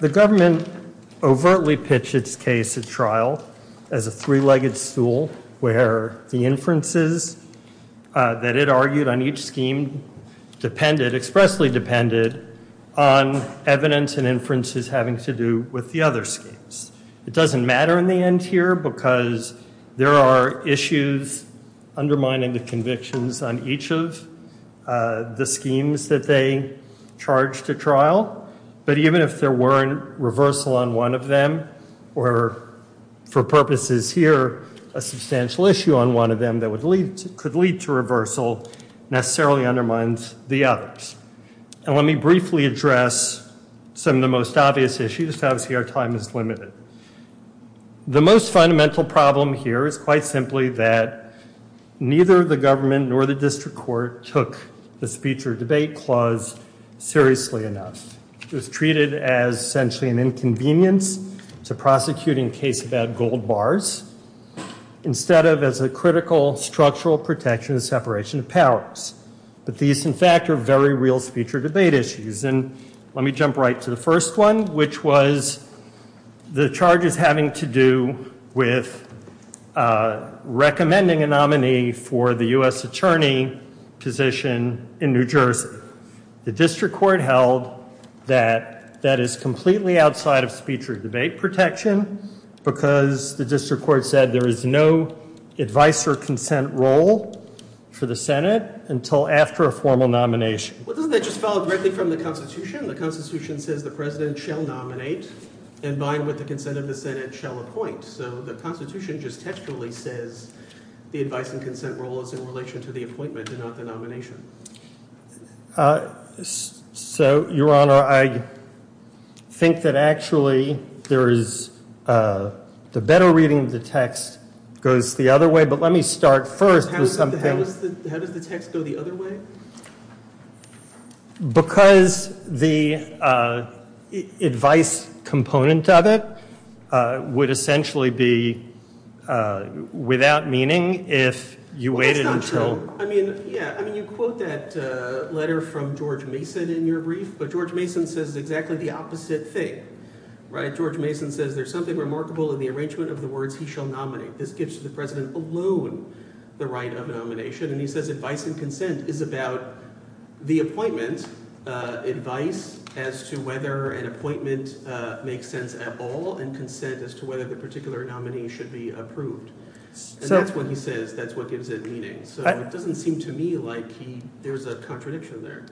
The government overtly pitched its case at trial as a three-legged stool where the inferences that it argued on each scheme depended, expressly depended, on evidence and inferences having to do with the other schemes. It doesn't matter in the end here because there are issues undermining the convictions on each of the schemes that they charged to trial. But even if there weren't reversal on one of them or, for purposes here, a substantial issue on one of them that could lead to reversal necessarily undermines the others. And let me briefly address some of the most obvious issues. Obviously, our time is limited. The most fundamental problem here is quite simply that neither the government nor the district court took the speech or debate clause seriously enough. It was treated as essentially an inconvenience to prosecuting a case about gold bars instead of as a critical structural protection of separation of powers. But these, in fact, are very real speech or debate issues. And let me jump right to the first one, which was the charges having to do with recommending a nominee for the U.S. attorney position in New Jersey. The district court held that that is completely outside of speech or debate protection because the district court said there is no advice or consent role for the Senate until after a formal nomination. Well, doesn't that just follow directly from the Constitution? The Constitution says the president shall nominate and, by and with the consent of the Senate, shall appoint. So the Constitution just textually says the advice and consent role is in relation to the appointment and not the nomination. So, Your Honor, I think that actually there is – the better reading of the text goes the other way. But let me start first with something. How does the text go the other way? Because the advice component of it would essentially be without meaning if you waited until – Well, that's not true. I mean, yeah. I mean, you quote that letter from George Mason in your brief, but George Mason says exactly the opposite thing, right? George Mason says there's something remarkable in the arrangement of the words he shall nominate. This gives the president alone the right of nomination, and he says advice and consent is about the appointment. Advice as to whether an appointment makes sense at all and consent as to whether the particular nominee should be approved. And that's what he says. That's what gives it meaning. So it doesn't seem to me like he – there's a contradiction there.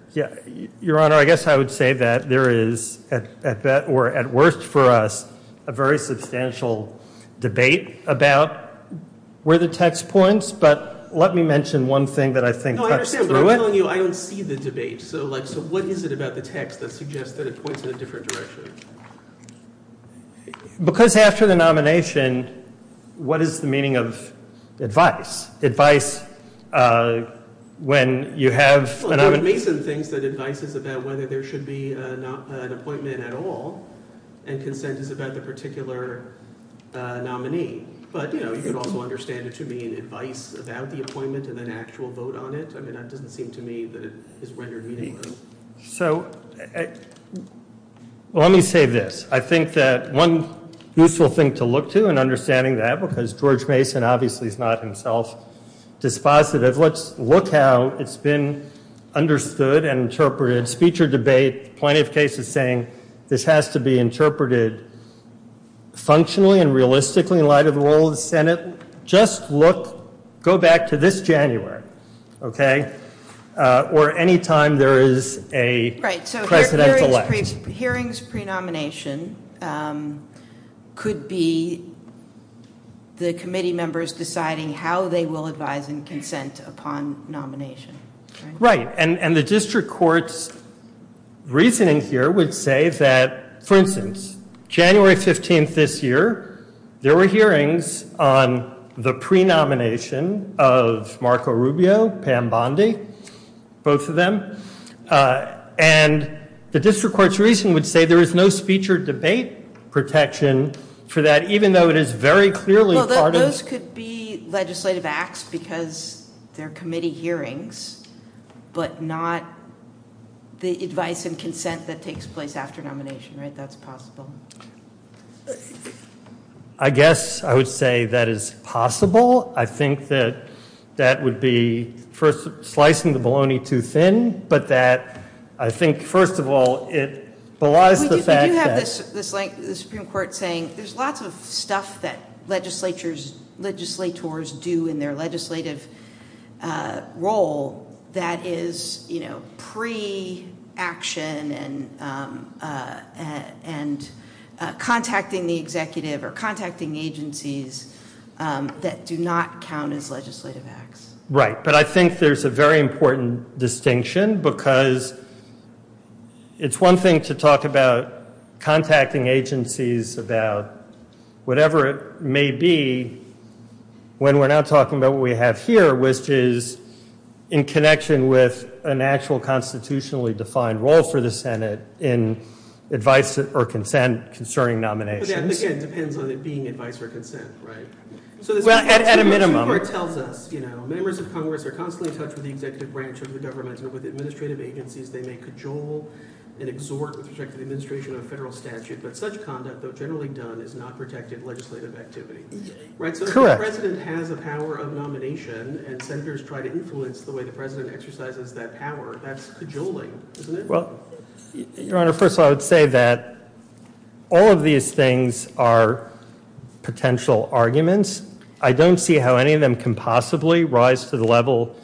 Your Honor, I guess I would say that there is, at best or at worst for us, a very substantial debate about where the text points. But let me mention one thing that I think cuts through it. No, I understand, but I'm telling you I don't see the debate. So what is it about the text that suggests that it points in a different direction? Because after the nomination, what is the meaning of advice? Advice when you have – Well, George Mason thinks that advice is about whether there should be an appointment at all, and consent is about the particular nominee. But, you know, you could also understand it to mean advice about the appointment and an actual vote on it. I mean, that doesn't seem to me that it is rendered meaningfully. So let me say this. I think that one useful thing to look to in understanding that, because George Mason obviously is not himself dispositive, let's look how it's been understood and interpreted. Speech or debate, plenty of cases saying this has to be interpreted functionally and realistically in light of the role of the Senate. Just look – go back to this January, okay, or any time there is a presidential election. So hearings pre-nomination could be the committee members deciding how they will advise and consent upon nomination. Right, and the district court's reasoning here would say that, for instance, January 15th this year, there were hearings on the pre-nomination of Marco Rubio, Pam Bondi, both of them, and the district court's reasoning would say there is no speech or debate protection for that, even though it is very clearly part of – Well, those could be legislative acts because they're committee hearings, but not the advice and consent that takes place after nomination, right? That's possible. I guess I would say that is possible. I think that that would be, first, slicing the bologna too thin, but that I think, first of all, it belies the fact that – We do have this Supreme Court saying there's lots of stuff that legislators do in their legislative role that is pre-action and contacting the executive or contacting agencies that do not count as legislative acts. Right, but I think there's a very important distinction because it's one thing to talk about contacting agencies about whatever it may be when we're not talking about what we have here, which is in connection with an actual constitutionally defined role for the Senate in advice or consent concerning nominations. Yeah, but again, it depends on it being advice or consent, right? Well, at a minimum. The Supreme Court tells us, you know, members of Congress are constantly in touch with the executive branch of the government and with administrative agencies. They may cajole and exhort with respect to the administration of a federal statute, but such conduct, though generally done, is not protected legislative activity. Correct. So if the president has a power of nomination and senators try to influence the way the president exercises that power, that's cajoling, isn't it? Well, Your Honor, first of all, I would say that all of these things are potential arguments. I don't see how any of them can possibly rise to the level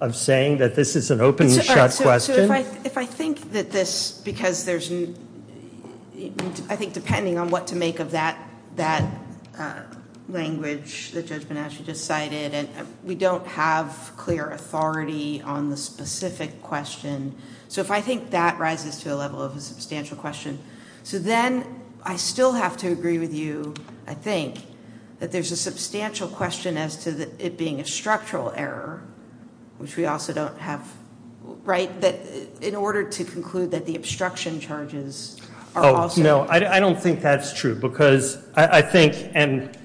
of saying that this is an open and shut question. So if I think that this, because there's, I think depending on what to make of that language that Judge Bonacci just cited, we don't have clear authority on the specific question. So if I think that rises to the level of a substantial question, so then I still have to agree with you, I think, that there's a substantial question as to it being a structural error, which we also don't have, right, that in order to conclude that the obstruction charges are also. Oh, no, I don't think that's true because I think and,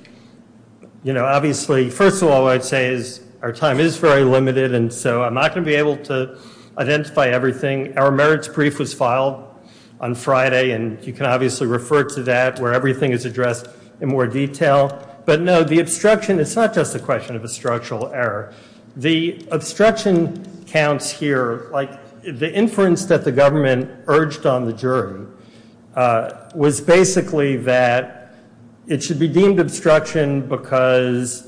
you know, obviously, first of all, what I'd say is our time is very limited and so I'm not going to be able to identify everything. Our merits brief was filed on Friday and you can obviously refer to that where everything is addressed in more detail. But, no, the obstruction, it's not just a question of a structural error. The obstruction counts here, like the inference that the government urged on the jury was basically that it should be deemed obstruction because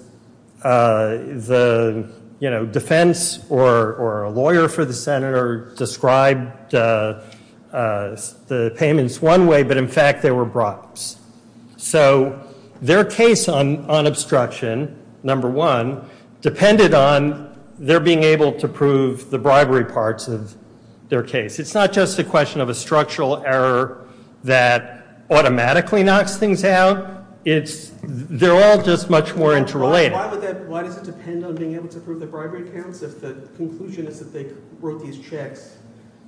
the, you know, defense or a lawyer for the senator described the payments one way, but, in fact, they were brops. So their case on obstruction, number one, depended on their being able to prove the bribery parts of their case. It's not just a question of a structural error that automatically knocks things out. They're all just much more interrelated. Why does it depend on being able to prove the bribery counts if the conclusion is that they wrote these checks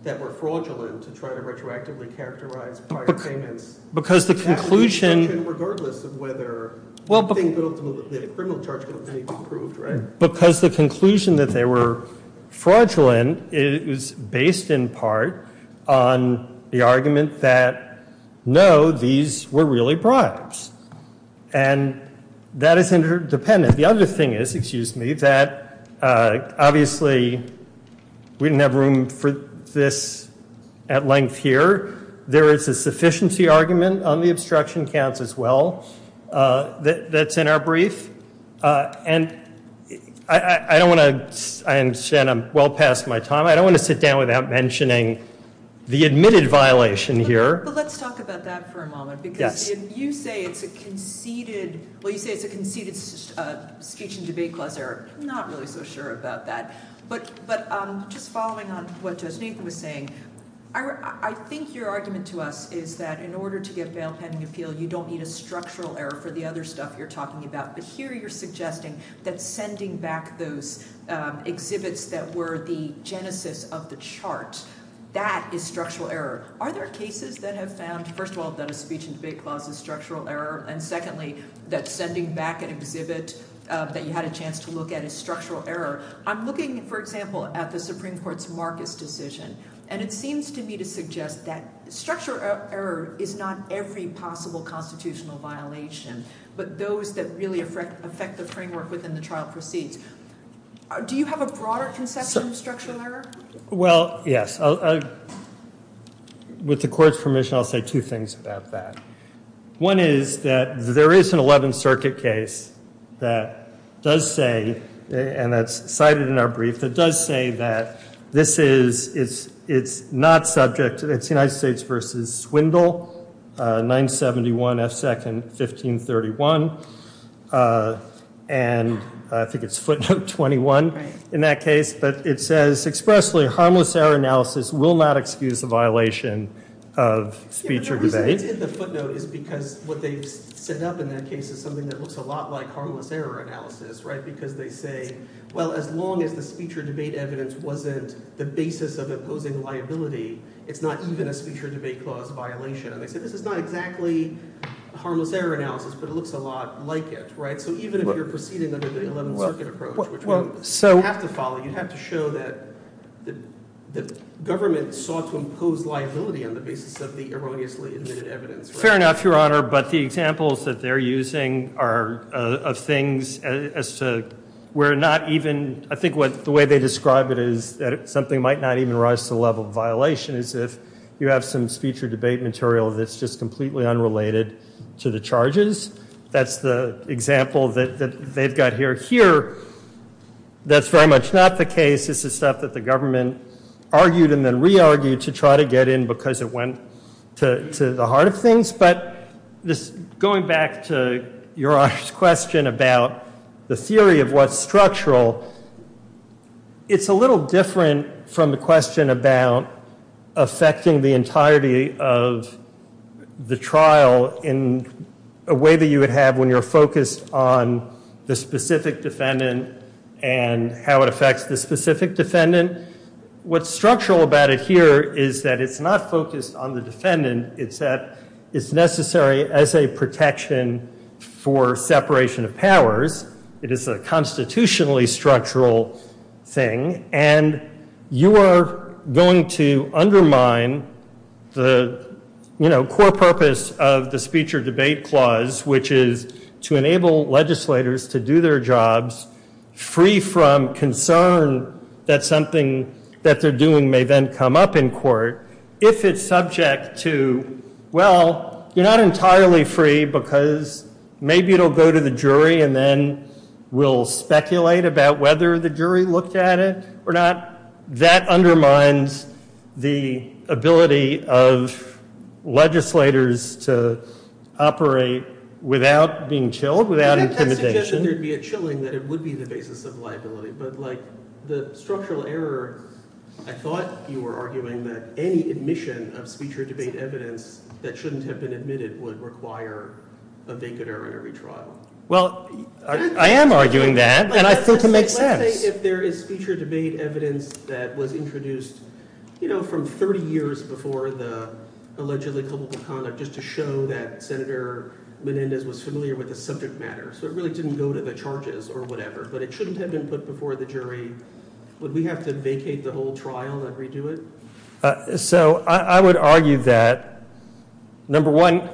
that were fraudulent to try to retroactively characterize prior payments? Because the conclusion. Regardless of whether the criminal charge could have been improved, right? Because the conclusion that they were fraudulent is based in part on the argument that, no, these were really bribes. And that is interdependent. The other thing is, excuse me, that obviously we didn't have room for this at length here. There is a sufficiency argument on the obstruction counts as well that's in our brief. And I don't want to, I understand I'm well past my time. I don't want to sit down without mentioning the admitted violation here. But let's talk about that for a moment. Because if you say it's a conceded, well, you say it's a conceded speech and debate clause error, I'm not really so sure about that. But just following on what Judge Nathan was saying, I think your argument to us is that in order to get bail pending appeal, you don't need a structural error for the other stuff you're talking about. But here you're suggesting that sending back those exhibits that were the genesis of the chart, that is structural error. Are there cases that have found, first of all, that a speech and debate clause is structural error? And secondly, that sending back an exhibit that you had a chance to look at is structural error? I'm looking, for example, at the Supreme Court's Marcus decision. And it seems to me to suggest that structural error is not every possible constitutional violation, but those that really affect the framework within the trial proceeds. Do you have a broader conception of structural error? Well, yes. With the court's permission, I'll say two things about that. One is that there is an 11th Circuit case that does say, and that's cited in our brief, that does say that this is, it's not subject, it's United States v. Swindle, 971 F. 2nd, 1531. And I think it's footnote 21 in that case. But it says expressly, harmless error analysis will not excuse a violation of speech or debate. The reason it's in the footnote is because what they've set up in that case is something that looks a lot like harmless error analysis, right? Because they say, well, as long as the speech or debate evidence wasn't the basis of imposing liability, it's not even a speech or debate clause violation. And they say this is not exactly harmless error analysis, but it looks a lot like it, right? So even if you're proceeding under the 11th Circuit approach, which you have to follow, you have to show that the government sought to impose liability on the basis of the erroneously admitted evidence. Fair enough, Your Honor, but the examples that they're using are of things as to where not even, I think the way they describe it is that something might not even rise to the level of violation as if you have some speech or debate material that's just completely unrelated to the charges. That's the example that they've got here. Here, that's very much not the case. This is stuff that the government argued and then re-argued to try to get in because it went to the heart of things. Going back to Your Honor's question about the theory of what's structural, it's a little different from the question about affecting the entirety of the trial in a way that you would have when you're focused on the specific defendant and how it affects the specific defendant. What's structural about it here is that it's not focused on the defendant. It's necessary as a protection for separation of powers. It is a constitutionally structural thing, and you are going to undermine the core purpose of the speech or debate clause, which is to enable legislators to do their jobs free from concern that something that they're doing may then come up in court if it's subject to, well, you're not entirely free because maybe it'll go to the jury and then we'll speculate about whether the jury looked at it or not. That undermines the ability of legislators to operate without being chilled, without intimidation. I think that suggests that there would be a chilling, that it would be the basis of liability. But the structural error, I thought you were arguing that any admission of speech or debate evidence that shouldn't have been admitted would require a vacant error in every trial. Well, I am arguing that, and I think it makes sense. Let's say if there is speech or debate evidence that was introduced from 30 years before the allegedly coupled conduct just to show that Senator Menendez was familiar with the subject matter, so it really didn't go to the charges or whatever, but it shouldn't have been put before the jury, would we have to vacate the whole trial and redo it? So I would argue that, number one,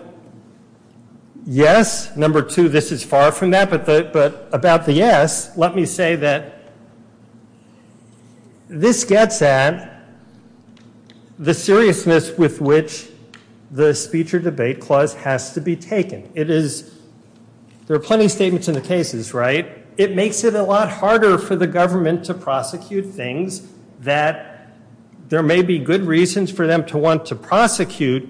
yes. Number two, this is far from that. But about the yes, let me say that this gets at the seriousness with which the speech or debate clause has to be taken. There are plenty of statements in the cases, right? It makes it a lot harder for the government to prosecute things that there may be good reasons for them to want to prosecute,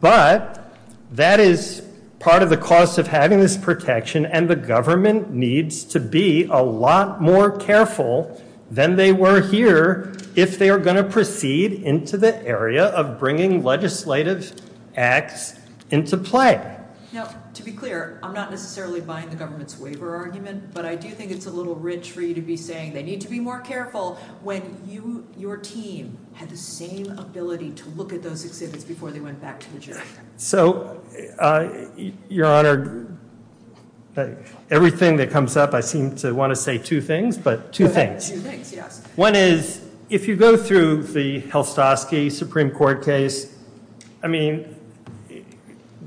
but that is part of the cost of having this protection, and the government needs to be a lot more careful than they were here if they are going to proceed into the area of bringing legislative acts into play. Now, to be clear, I'm not necessarily buying the government's waiver argument, but I do think it's a little rich for you to be saying they need to be more careful when your team had the same ability to look at those exhibits before they went back to the jury. So, Your Honor, everything that comes up, I seem to want to say two things, but two things. Two things, yes. One is if you go through the Helstosky Supreme Court case, I mean,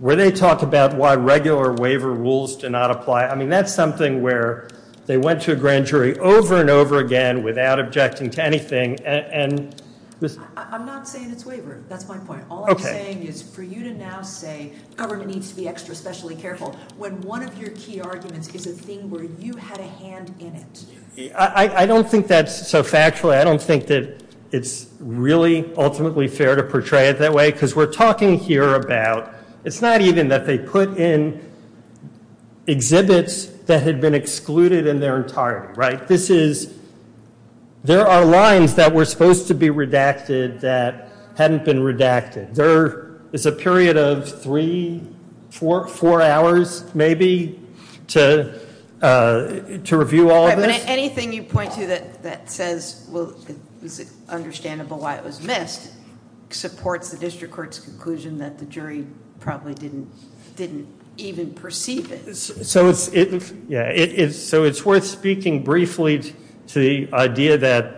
where they talk about why regular waiver rules do not apply, I mean, that's something where they went to a grand jury over and over again without objecting to anything. I'm not saying it's waiver. That's my point. All I'm saying is for you to now say government needs to be extra specially careful when one of your key arguments is a thing where you had a hand in it. I don't think that's so factual. I don't think that it's really ultimately fair to portray it that way because we're talking here about it's not even that they put in exhibits that had been excluded in their entirety, right? This is there are lines that were supposed to be redacted that hadn't been redacted. There is a period of three, four hours maybe to review all of this. Anything you point to that says it's understandable why it was missed supports the district court's conclusion that the jury probably didn't even perceive it. So it's worth speaking briefly to the idea that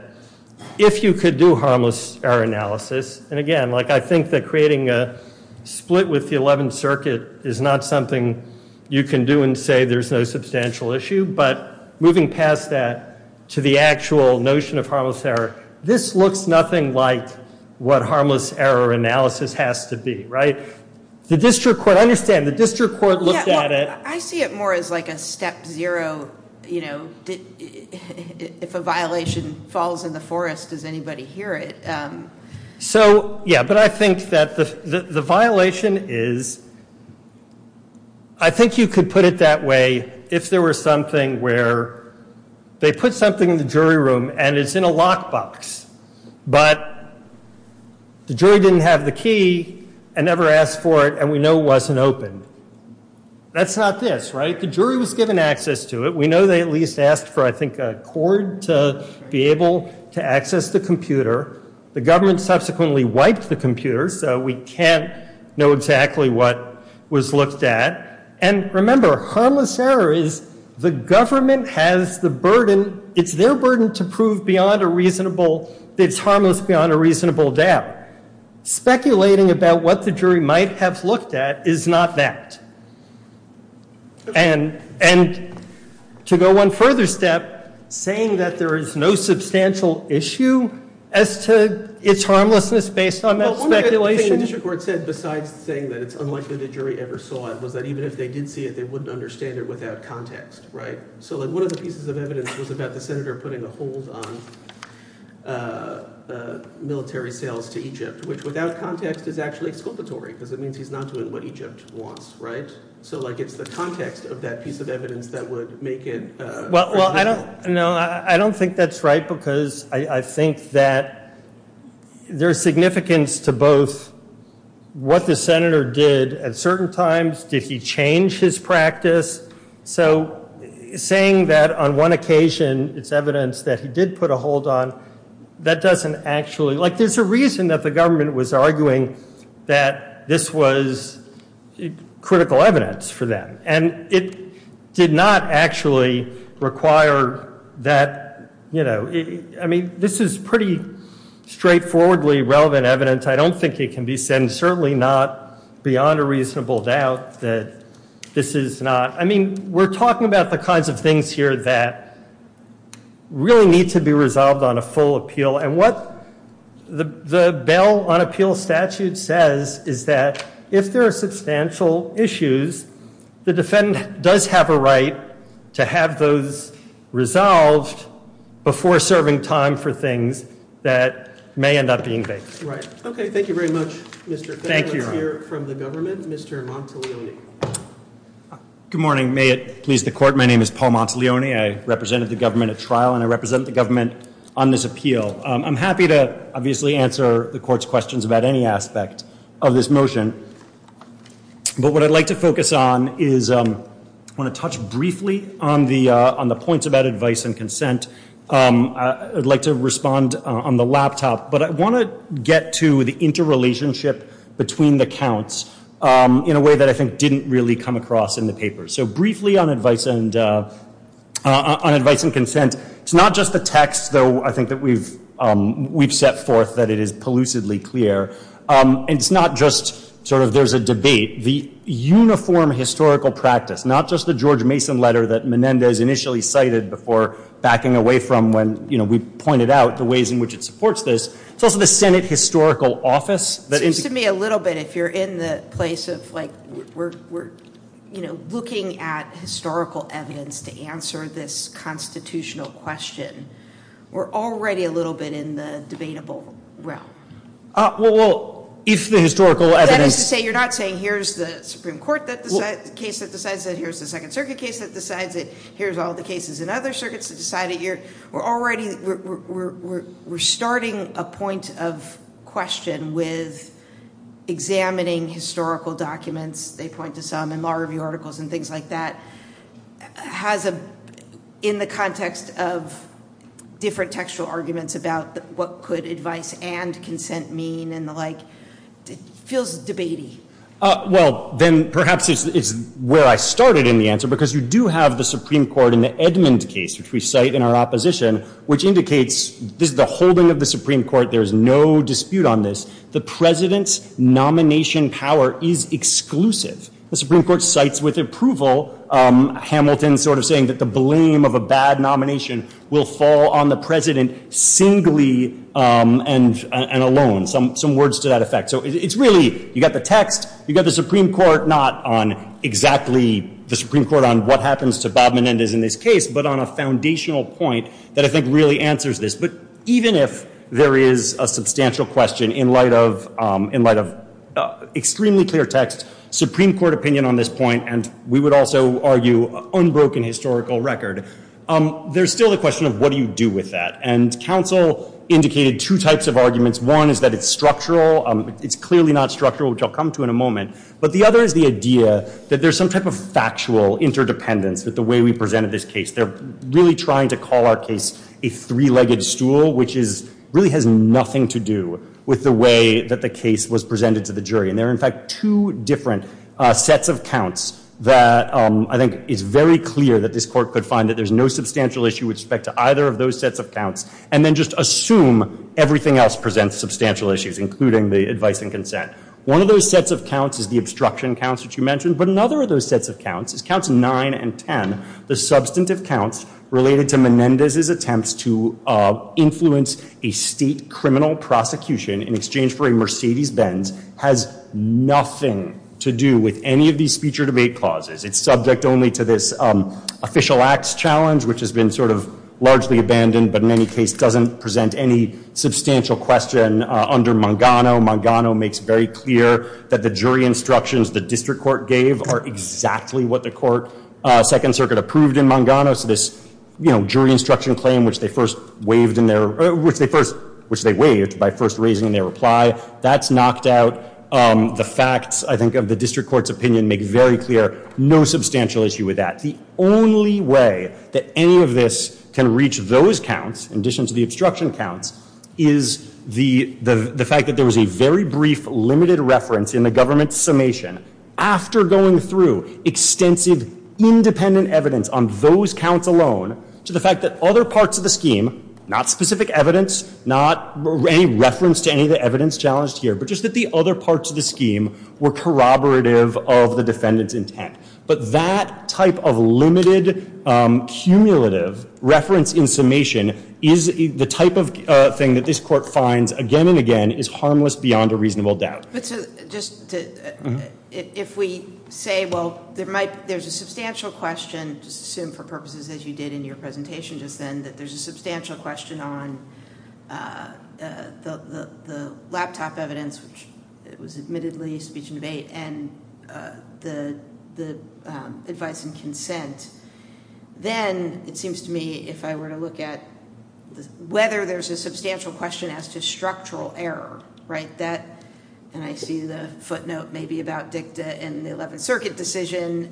if you could do harmless error analysis, and again, I think that creating a split with the 11th Circuit is not something you can do and say there's no substantial issue, but moving past that to the actual notion of harmless error, this looks nothing like what harmless error analysis has to be, right? The district court, I understand the district court looked at it. I see it more as like a step zero, you know, if a violation falls in the forest, does anybody hear it? So, yeah, but I think that the violation is I think you could put it that way if there were something where they put something in the jury room and it's in a lockbox, but the jury didn't have the key and never asked for it and we know it wasn't open. That's not this, right? The jury was given access to it. We know they at least asked for I think a cord to be able to access the computer. The government subsequently wiped the computer, so we can't know exactly what was looked at. And remember, harmless error is the government has the burden, it's their burden to prove beyond a reasonable, it's harmless beyond a reasonable doubt. Speculating about what the jury might have looked at is not that. And to go one further step, saying that there is no substantial issue as to its harmlessness based on that speculation. The district court said besides saying that it's unlikely the jury ever saw it was that even if they did see it, they wouldn't understand it without context, right? So one of the pieces of evidence was about the senator putting a hold on military sales to Egypt, which without context is actually exculpatory because it means he's not doing what Egypt wants, right? So it's the context of that piece of evidence that would make it reasonable. Well, I don't think that's right because I think that there's significance to both what the senator did at certain times. Did he change his practice? So saying that on one occasion it's evidence that he did put a hold on, that doesn't actually, like there's a reason that the government was arguing that this was critical evidence for them. And it did not actually require that, you know, I mean, this is pretty straightforwardly relevant evidence. I don't think it can be said and certainly not beyond a reasonable doubt that this is not, I mean, we're talking about the kinds of things here that really need to be resolved on a full appeal. And what the bail on appeal statute says is that if there are substantial issues, the defendant does have a right to have those resolved before serving time for things that may end up being based. Right. Okay. Thank you very much, Mr. Thank you. From the government, Mr. Monteleone. Good morning. May it please the court. My name is Paul Monteleone. I represented the government at trial and I represent the government on this appeal. I'm happy to obviously answer the court's questions about any aspect of this motion. But what I'd like to focus on is I want to touch briefly on the on the points about advice and consent. I'd like to respond on the laptop, but I want to get to the interrelationship between the counts in a way that I think didn't really come across in the paper. So briefly on advice and on advice and consent. It's not just the text, though, I think that we've we've set forth that it is pollutedly clear. It's not just sort of there's a debate. The uniform historical practice, not just the George Mason letter that Menendez initially cited before backing away from when we pointed out the ways in which it supports this. It's also the Senate historical office. That is to me a little bit. If you're in the place of like we're we're, you know, looking at historical evidence to answer this constitutional question. We're already a little bit in the debatable realm. Well, if the historical evidence. Say you're not saying here's the Supreme Court that the case that decides that here's the Second Circuit case that decides it. Here's all the cases in other circuits that decided here. We're already we're starting a point of question with examining historical documents. They point to some in law review articles and things like that has a in the context of different textual arguments about what could advice and consent mean and the like. It feels debating. Well, then perhaps it's where I started in the answer, because you do have the Supreme Court in the Edmund case, which we cite in our opposition, which indicates this is the holding of the Supreme Court. There is no dispute on this. The president's nomination power is exclusive. The Supreme Court cites with approval Hamilton sort of saying that the blame of a bad nomination will fall on the president singly and alone. Some some words to that effect. So it's really you got the text. You got the Supreme Court, not on exactly the Supreme Court on what happens to Bob Menendez in this case, but on a foundational point that I think really answers this. But even if there is a substantial question in light of in light of extremely clear text Supreme Court opinion on this point, and we would also argue unbroken historical record, there's still a question of what do you do with that? And counsel indicated two types of arguments. One is that it's structural. It's clearly not structural, which I'll come to in a moment. But the other is the idea that there's some type of factual interdependence with the way we presented this case. They're really trying to call our case a three-legged stool, which is really has nothing to do with the way that the case was presented to the jury. And there are, in fact, two different sets of counts that I think is very clear that this Court could find that there's no substantial issue with respect to either of those sets of counts. And then just assume everything else presents substantial issues, including the advice and consent. One of those sets of counts is the obstruction counts that you mentioned. But another of those sets of counts is counts 9 and 10, the substantive counts related to Menendez's attempts to influence a state criminal prosecution in exchange for a Mercedes-Benz, has nothing to do with any of these speech or debate clauses. It's subject only to this official acts challenge, which has been sort of largely abandoned, but in any case doesn't present any substantial question under Mangano. Mangano makes very clear that the jury instructions the district court gave are exactly what the court, Second Circuit, approved in Mangano. So this jury instruction claim, which they first waived by first raising their reply, that's knocked out. The facts, I think, of the district court's opinion make very clear no substantial issue with that. The only way that any of this can reach those counts, in addition to the obstruction counts, is the fact that there was a very brief limited reference in the government's summation, after going through extensive independent evidence on those counts alone, to the fact that other parts of the scheme, not specific evidence, not any reference to any of the evidence challenged here, but just that the other parts of the scheme were corroborative of the defendant's intent. But that type of limited cumulative reference in summation, the type of thing that this court finds again and again, is harmless beyond a reasonable doubt. If we say, well, there's a substantial question, just assume for purposes as you did in your presentation just then, that there's a substantial question on the laptop evidence, which was admittedly speech and debate, and the advice and consent, then it seems to me, if I were to look at whether there's a substantial question as to structural error, and I see the footnote maybe about DICTA and the Eleventh Circuit decision,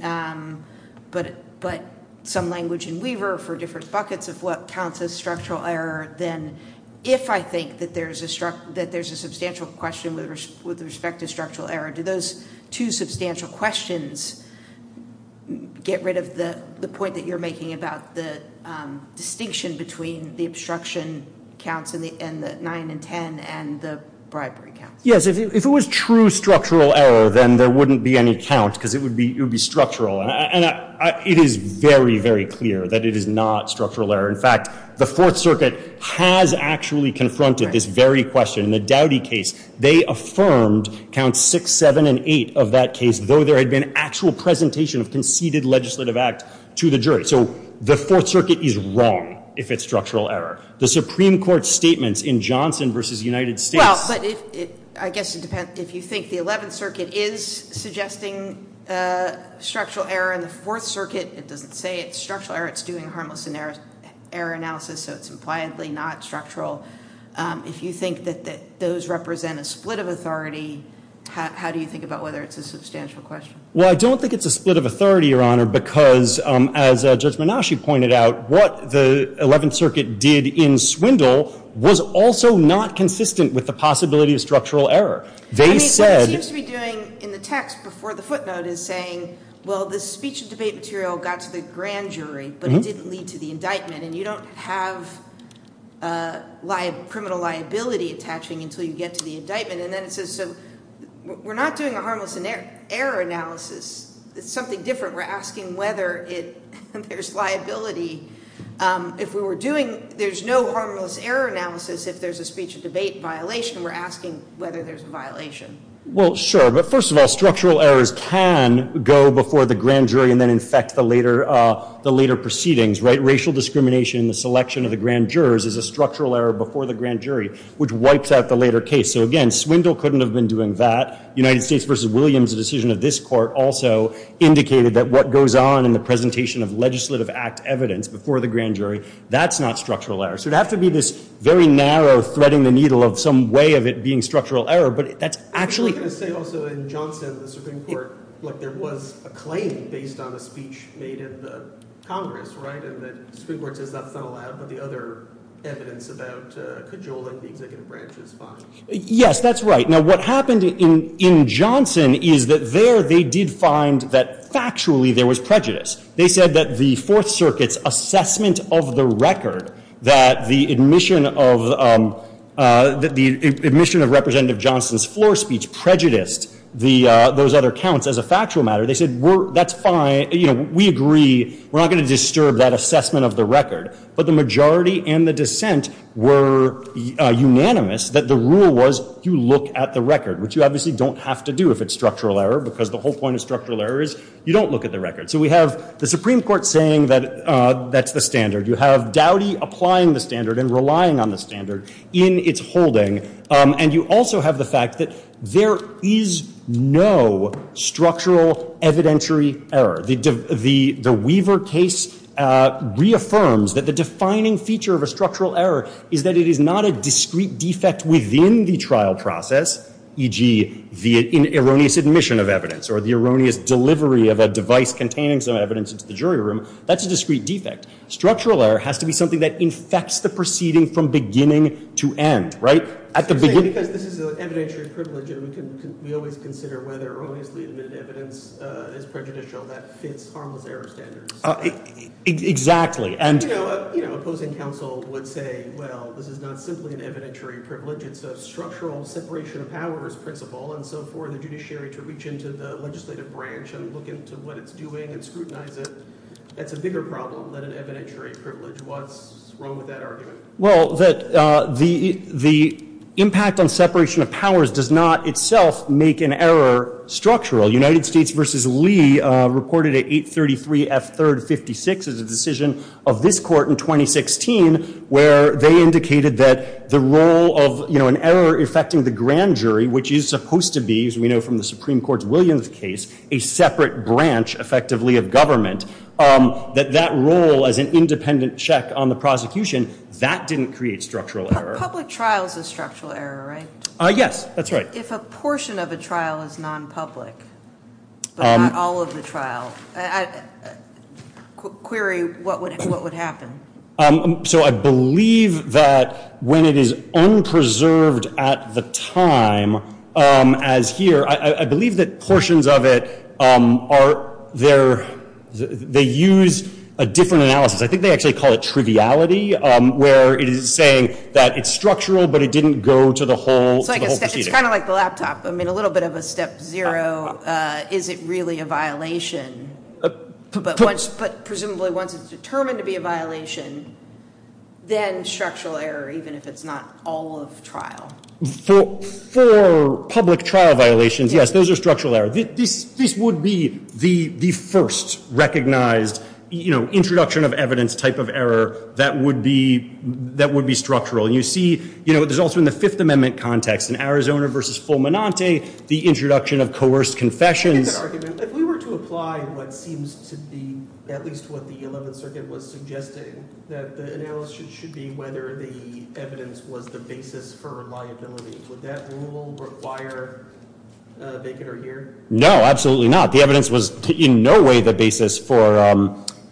but some language in Weaver for different buckets of what counts as structural error, then if I think that there's a substantial question with respect to structural error, do those two substantial questions get rid of the point that you're making about the distinction between the obstruction counts and the 9 and 10 and the bribery counts? Yes. If it was true structural error, then there wouldn't be any count, because it would be structural. And it is very, very clear that it is not structural error. In fact, the Fourth Circuit has actually confronted this very question. In the Dowdy case, they affirmed counts 6, 7, and 8 of that case, though there had been actual presentation of conceded legislative act to the jury. So the Fourth Circuit is wrong if it's structural error. The Supreme Court's statements in Johnson v. United States. Well, but I guess it depends. If you think the Eleventh Circuit is suggesting structural error and the Fourth Circuit doesn't say it's structural error, it's doing harmless error analysis, so it's impliedly not structural. If you think that those represent a split of authority, how do you think about whether it's a substantial question? Well, I don't think it's a split of authority, Your Honor, because as Judge Menasche pointed out, what the Eleventh Circuit did in Swindle was also not consistent with the possibility of structural error. What it seems to be doing in the text before the footnote is saying, well, the speech and debate material got to the grand jury, but it didn't lead to the indictment, and you don't have criminal liability attaching until you get to the indictment. And then it says, so we're not doing a harmless error analysis. It's something different. We're asking whether there's liability. If we were doing – there's no harmless error analysis if there's a speech and debate violation. We're asking whether there's a violation. Well, sure, but first of all, structural errors can go before the grand jury and then infect the later proceedings, right? Racial discrimination in the selection of the grand jurors is a structural error before the grand jury, which wipes out the later case. So, again, Swindle couldn't have been doing that. United States v. Williams, a decision of this court, also indicated that what goes on in the presentation of legislative act evidence before the grand jury, that's not structural error. So it would have to be this very narrow threading the needle of some way of it being structural error, but that's actually – I was going to say also in Johnson, the Supreme Court, like there was a claim based on a speech made in the Congress, right? And the Supreme Court says that's not allowed, but the other evidence about cajoling the executive branch is fine. Yes, that's right. Now, what happened in Johnson is that there they did find that factually there was prejudice. They said that the Fourth Circuit's assessment of the record that the admission of – that the admission of Representative Johnson's floor speech prejudiced those other counts as a factual matter. They said that's fine. We agree. We're not going to disturb that assessment of the record. But the majority and the dissent were unanimous that the rule was you look at the record, which you obviously don't have to do if it's structural error because the whole point of structural error is you don't look at the record. So we have the Supreme Court saying that that's the standard. You have Dowdy applying the standard and relying on the standard in its holding. And you also have the fact that there is no structural evidentiary error. The Weaver case reaffirms that the defining feature of a structural error is that it is not a discrete defect within the trial process, e.g., the erroneous admission of evidence or the erroneous delivery of a device containing some evidence into the jury room. That's a discrete defect. Structural error has to be something that infects the proceeding from beginning to end, right? At the beginning – Because this is an evidentiary privilege and we always consider whether erroneously admitted evidence is prejudicial, that fits harmless error standards. Exactly. You know, opposing counsel would say, well, this is not simply an evidentiary privilege. It's a structural separation of powers principle. And so for the judiciary to reach into the legislative branch and look into what it's doing and scrutinize it, that's a bigger problem than an evidentiary privilege. What's wrong with that argument? Well, the impact on separation of powers does not itself make an error structural. United States v. Lee reported at 833 F. 3rd 56 as a decision of this court in 2016 where they indicated that the role of an error affecting the grand jury, which is supposed to be, as we know from the Supreme Court's Williams case, a separate branch effectively of government, that that role as an independent check on the prosecution, that didn't create structural error. Public trial is a structural error, right? Yes, that's right. But if a portion of a trial is nonpublic, but not all of the trial, query what would happen. So I believe that when it is unpreserved at the time as here, I believe that portions of it are there. They use a different analysis. I think they actually call it triviality, where it is saying that it's structural, but it didn't go to the whole proceeding. It's kind of like the laptop. I mean, a little bit of a step zero, is it really a violation? But presumably once it's determined to be a violation, then structural error, even if it's not all of trial. For public trial violations, yes, those are structural errors. This would be the first recognized introduction of evidence type of error that would be structural. There's also in the Fifth Amendment context, in Arizona versus Fulminante, the introduction of coerced confessions. If we were to apply what seems to be at least what the 11th Circuit was suggesting, that the analysis should be whether the evidence was the basis for liability. Would that rule require a vacant or year? No, absolutely not. The evidence was in no way the basis for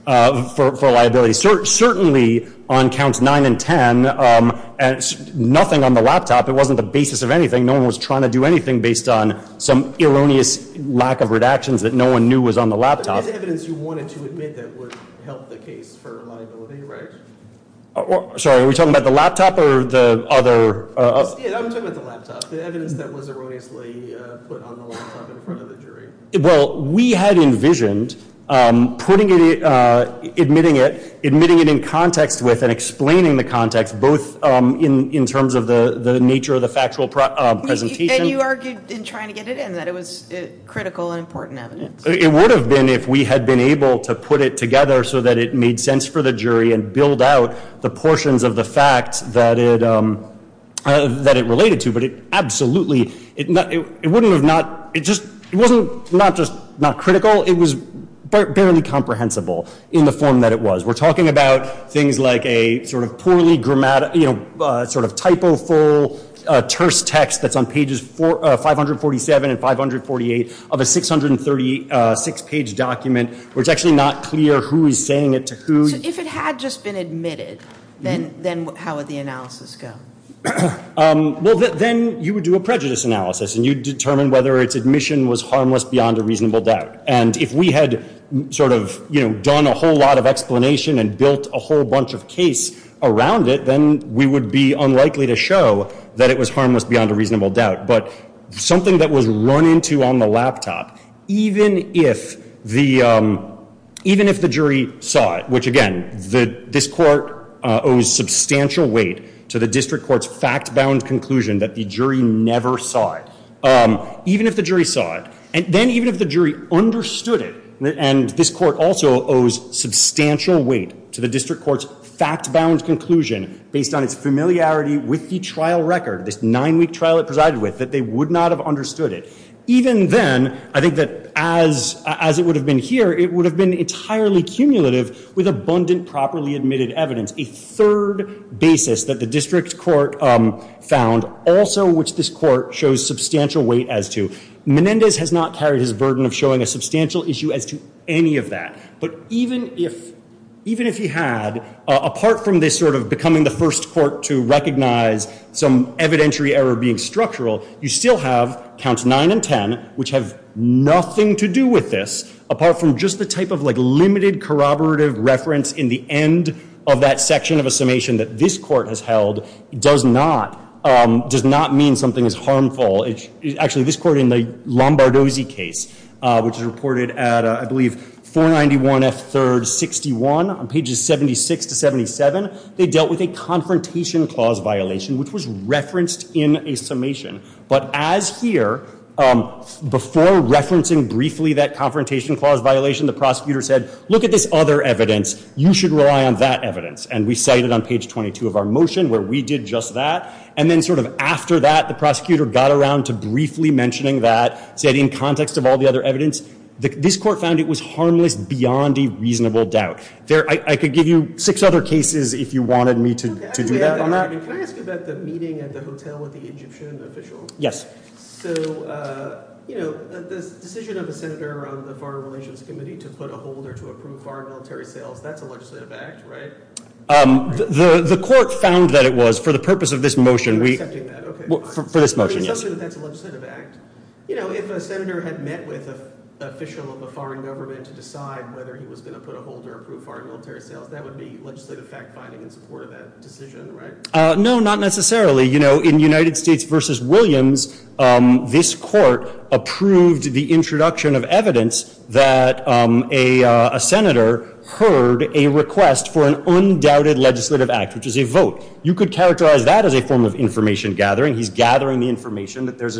liability. Certainly on counts 9 and 10, nothing on the laptop. It wasn't the basis of anything. No one was trying to do anything based on some erroneous lack of redactions that no one knew was on the laptop. But it's evidence you wanted to admit that would help the case for liability, right? Sorry, are we talking about the laptop or the other? Yeah, I'm talking about the laptop. The evidence that was erroneously put on the laptop in front of the jury. Well, we had envisioned admitting it, admitting it in context with and explaining the context, both in terms of the nature of the factual presentation. And you argued in trying to get it in that it was critical and important evidence. It would have been if we had been able to put it together so that it made sense for the jury and build out the portions of the fact that it related to. But it absolutely, it wouldn't have not, it wasn't not just not critical, it was barely comprehensible in the form that it was. We're talking about things like a sort of poorly grammatical, you know, sort of typo-full terse text that's on pages 547 and 548 of a 636-page document where it's actually not clear who is saying it to who. So if it had just been admitted, then how would the analysis go? Well, then you would do a prejudice analysis and you'd determine whether its admission was harmless beyond a reasonable doubt. And if we had sort of, you know, done a whole lot of explanation and built a whole bunch of case around it, then we would be unlikely to show that it was harmless beyond a reasonable doubt. But something that was run into on the laptop, even if the jury saw it, which again, this court owes substantial weight to the district court's fact-bound conclusion that the jury never saw it. Even if the jury saw it, and then even if the jury understood it, and this court also owes substantial weight to the district court's fact-bound conclusion based on its familiarity with the trial record, this nine-week trial it presided with, that they would not have understood it. Even then, I think that as it would have been here, it would have been entirely cumulative with abundant properly admitted evidence. A third basis that the district court found, also which this court shows substantial weight as to. Menendez has not carried his burden of showing a substantial issue as to any of that. But even if he had, apart from this sort of becoming the first court to recognize some evidentiary error being structural, you still have counts nine and ten, which have nothing to do with this, apart from just the type of limited corroborative reference in the end of that section of a summation that this court has held, does not mean something is harmful. Actually, this court in the Lombardozzi case, which is reported at, I believe, 491 F. 3rd. 61, on pages 76 to 77, they dealt with a confrontation clause violation, which was referenced in a summation. But as here, before referencing briefly that confrontation clause violation, the prosecutor said, look at this other evidence. You should rely on that evidence. And we cited on page 22 of our motion where we did just that. And then sort of after that, the prosecutor got around to briefly mentioning that, said in context of all the other evidence, this court found it was harmless beyond a reasonable doubt. I could give you six other cases if you wanted me to do that on that. Can I ask you about the meeting at the hotel with the Egyptian official? So, you know, the decision of a senator on the Foreign Relations Committee to put a holder to approve foreign military sales, that's a legislative act, right? The court found that it was for the purpose of this motion. For this motion, yes. But it tells me that that's a legislative act. You know, if a senator had met with an official of a foreign government to decide whether he was going to put a holder to approve foreign military sales, that would be legislative fact-finding in support of that decision, right? No, not necessarily. You know, in United States v. Williams, this court approved the introduction of evidence that a senator heard a request for an undoubted legislative act, which is a vote. You could characterize that as a form of information gathering. He's gathering the information that there's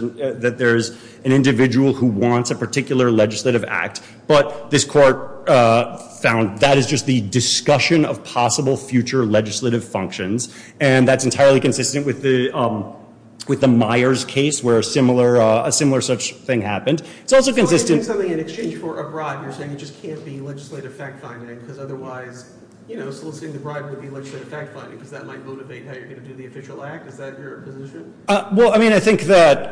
an individual who wants a particular legislative act. But this court found that is just the discussion of possible future legislative functions. And that's entirely consistent with the Myers case, where a similar such thing happened. It's also consistent... So you're doing something in exchange for a bribe. You're saying it just can't be legislative fact-finding, because otherwise, you know, soliciting the bribe would be legislative fact-finding, because that might motivate how you're going to do the official act. Is that your position? Well, I mean, I think that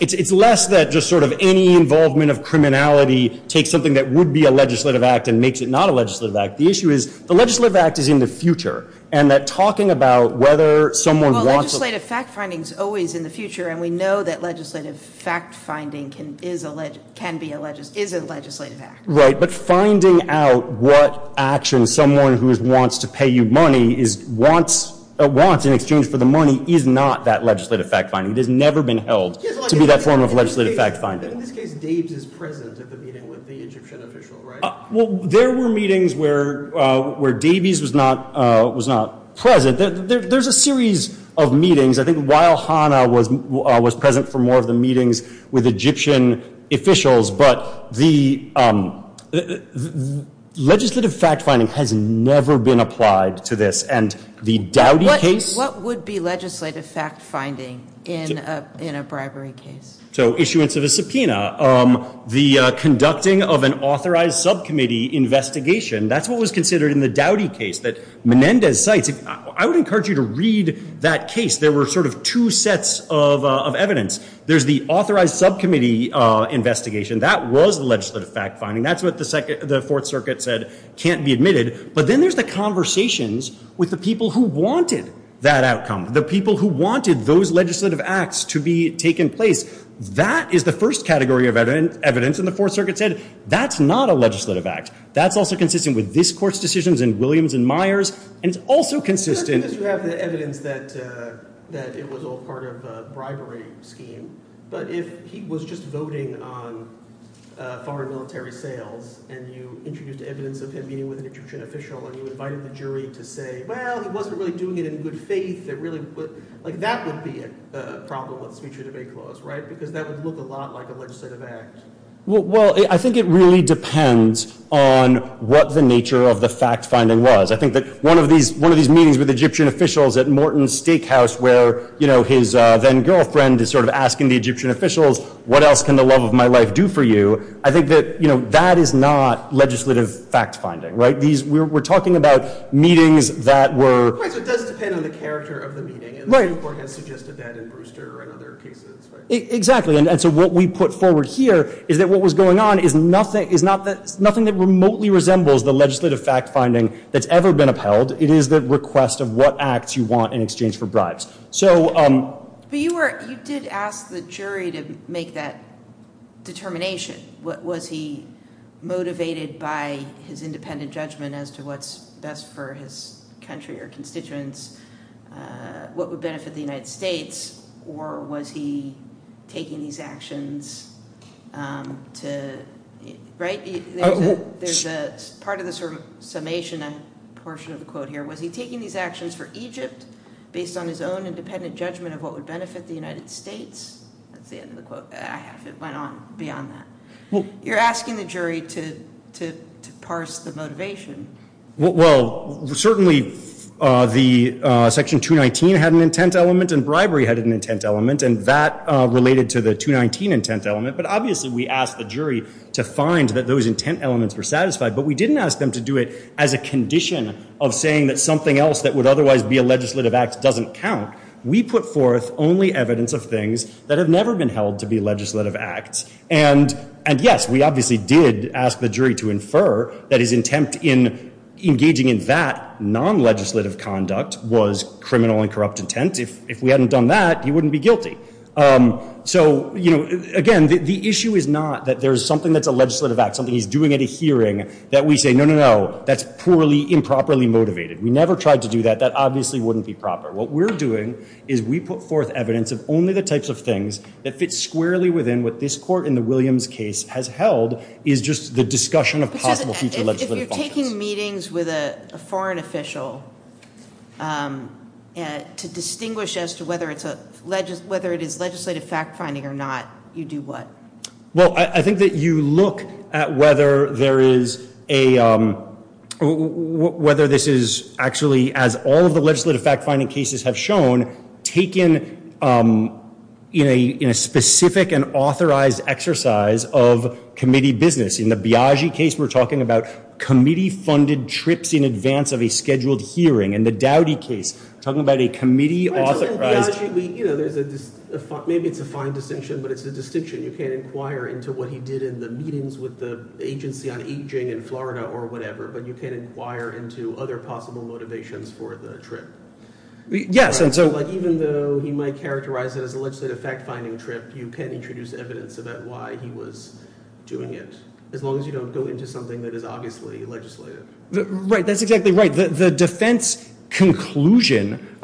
it's less that just sort of any involvement of criminality takes something that would be a legislative act and makes it not a legislative act. The issue is the legislative act is in the future, and that talking about whether someone wants... Well, legislative fact-finding is always in the future, and we know that legislative fact-finding can be a legislative act. Right, but finding out what action someone who wants to pay you money wants in exchange for the money is not that legislative fact-finding. It has never been held to be that form of legislative fact-finding. But in this case, Davies is present at the meeting with the Egyptian official, right? Well, there were meetings where Davies was not present. There's a series of meetings. I think while Hanna was present for more of the meetings with Egyptian officials, but the legislative fact-finding has never been applied to this, and the Dowdy case... What would be legislative fact-finding in a bribery case? So issuance of a subpoena. The conducting of an authorized subcommittee investigation. That's what was considered in the Dowdy case that Menendez cites. I would encourage you to read that case. There were sort of two sets of evidence. There's the authorized subcommittee investigation. That was legislative fact-finding. That's what the Fourth Circuit said can't be admitted. But then there's the conversations with the people who wanted that outcome, the people who wanted those legislative acts to be taken place. That is the first category of evidence, and the Fourth Circuit said, that's not a legislative act. That's also consistent with this Court's decisions in Williams and Myers, and it's also consistent... You have the evidence that it was all part of a bribery scheme, but if he was just voting on foreign military sales, and you introduced evidence of him meeting with an Egyptian official, and you invited the jury to say, well, he wasn't really doing it in good faith, that would be a problem with this future debate clause, right? Because that would look a lot like a legislative act. Well, I think it really depends on what the nature of the fact-finding was. I think that one of these meetings with Egyptian officials at Morton's Steakhouse, where his then-girlfriend is sort of asking the Egyptian officials, what else can the love of my life do for you? I think that that is not legislative fact-finding. We're talking about meetings that were... It does depend on the character of the meeting, and the Supreme Court has suggested that in Brewster and other cases. Exactly, and so what we put forward here is that what was going on is nothing that remotely resembles the legislative fact-finding that's ever been upheld. It is the request of what acts you want in exchange for bribes. But you did ask the jury to make that determination. Was he motivated by his independent judgment as to what's best for his country or constituents, what would benefit the United States, or was he taking these actions to... Right? There's a part of the summation portion of the quote here. Was he taking these actions for Egypt based on his own independent judgment of what would benefit the United States? That's the end of the quote. I have it went on beyond that. You're asking the jury to parse the motivation. Well, certainly Section 219 had an intent element and bribery had an intent element, and that related to the 219 intent element, but obviously we asked the jury to find that those intent elements were satisfied, but we didn't ask them to do it as a condition of saying that something else that would otherwise be a legislative act doesn't count. We put forth only evidence of things that have never been held to be legislative acts, and yes, we obviously did ask the jury to infer that his intent in engaging in that non-legislative conduct was criminal and corrupt intent. If we hadn't done that, he wouldn't be guilty. So, again, the issue is not that there's something that's a legislative act, something he's doing at a hearing that we say, no, no, no, that's poorly, improperly motivated. We never tried to do that. That obviously wouldn't be proper. What we're doing is we put forth evidence of only the types of things that fit squarely within what this court in the Williams case has held is just the discussion of possible future legislative functions. If you're taking meetings with a foreign official to distinguish as to whether it is legislative fact-finding or not, you do what? Well, I think that you look at whether this is actually, as all of the legislative fact-finding cases have shown, taken in a specific and authorized exercise of committee business. In the Biagi case, we're talking about committee-funded trips in advance of a scheduled hearing. In the Dowdy case, we're talking about a committee-authorized… Well, in Biagi, maybe it's a fine distinction, but it's a distinction. You can't inquire into what he did in the meetings with the Agency on Aging in Florida or whatever, but you can inquire into other possible motivations for the trip. Yes, and so… Even though he might characterize it as a legislative fact-finding trip, you can't introduce evidence about why he was doing it, as long as you don't go into something that is obviously legislative. Right, that's exactly right. The defense conclusion,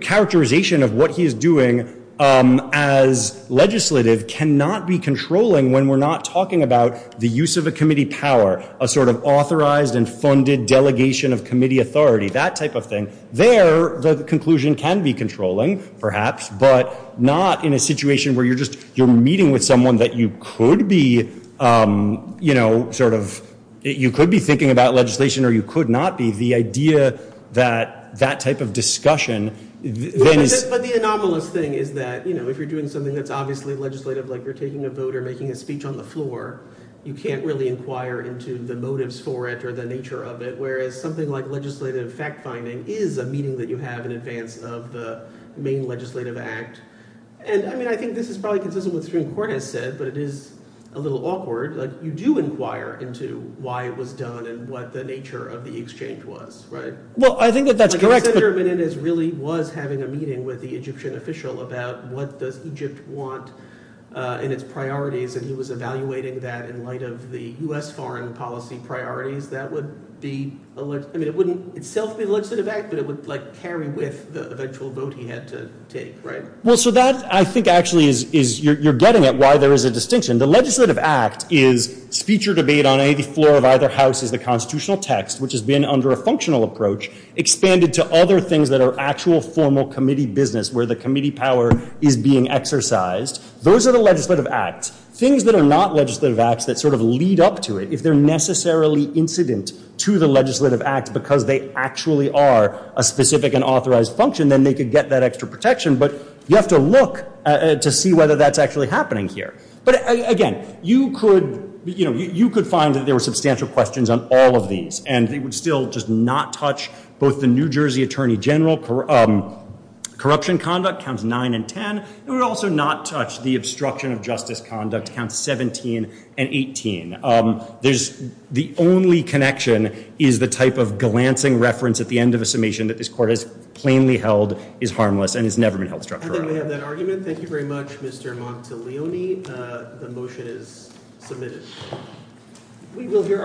characterization of what he is doing as legislative cannot be controlling when we're not talking about the use of a committee power, a sort of authorized and funded delegation of committee authority, that type of thing. There, the conclusion can be controlling, perhaps, but not in a situation where you're just meeting with someone that you could be thinking about legislation or you could not be. The idea that that type of discussion… But the anomalous thing is that if you're doing something that's obviously legislative, like you're taking a vote or making a speech on the floor, you can't really inquire into the motives for it or the nature of it, whereas something like legislative fact-finding is a meeting that you have in advance of the main legislative act. And, I mean, I think this is probably consistent with what Supreme Court has said, but it is a little awkward. You do inquire into why it was done and what the nature of the exchange was, right? Well, I think that that's correct, but… Senator Menendez really was having a meeting with the Egyptian official about what does Egypt want in its priorities, and he was evaluating that in light of the U.S. foreign policy priorities. That would be… I mean, it wouldn't itself be a legislative act, but it would, like, carry with the actual vote he had to take, right? Well, so that, I think, actually is… You're getting at why there is a distinction. The legislative act is speech or debate on any floor of either house is the constitutional text, which has been, under a functional approach, expanded to other things that are actual formal committee business where the committee power is being exercised. Those are the legislative acts. Things that are not legislative acts that sort of lead up to it, if they're necessarily incident to the legislative act because they actually are a specific and authorized function, then they could get that extra protection, but you have to look to see whether that's actually happening here. But, again, you could find that there were substantial questions on all of these, and they would still just not touch both the New Jersey Attorney General corruption conduct, Counts 9 and 10. They would also not touch the obstruction of justice conduct, Counts 17 and 18. The only connection is the type of glancing reference at the end of a summation that this court has plainly held is harmless and has never been held structurally wrong. And then we have that argument. Thank you very much, Mr. Monteleone. The motion is submitted.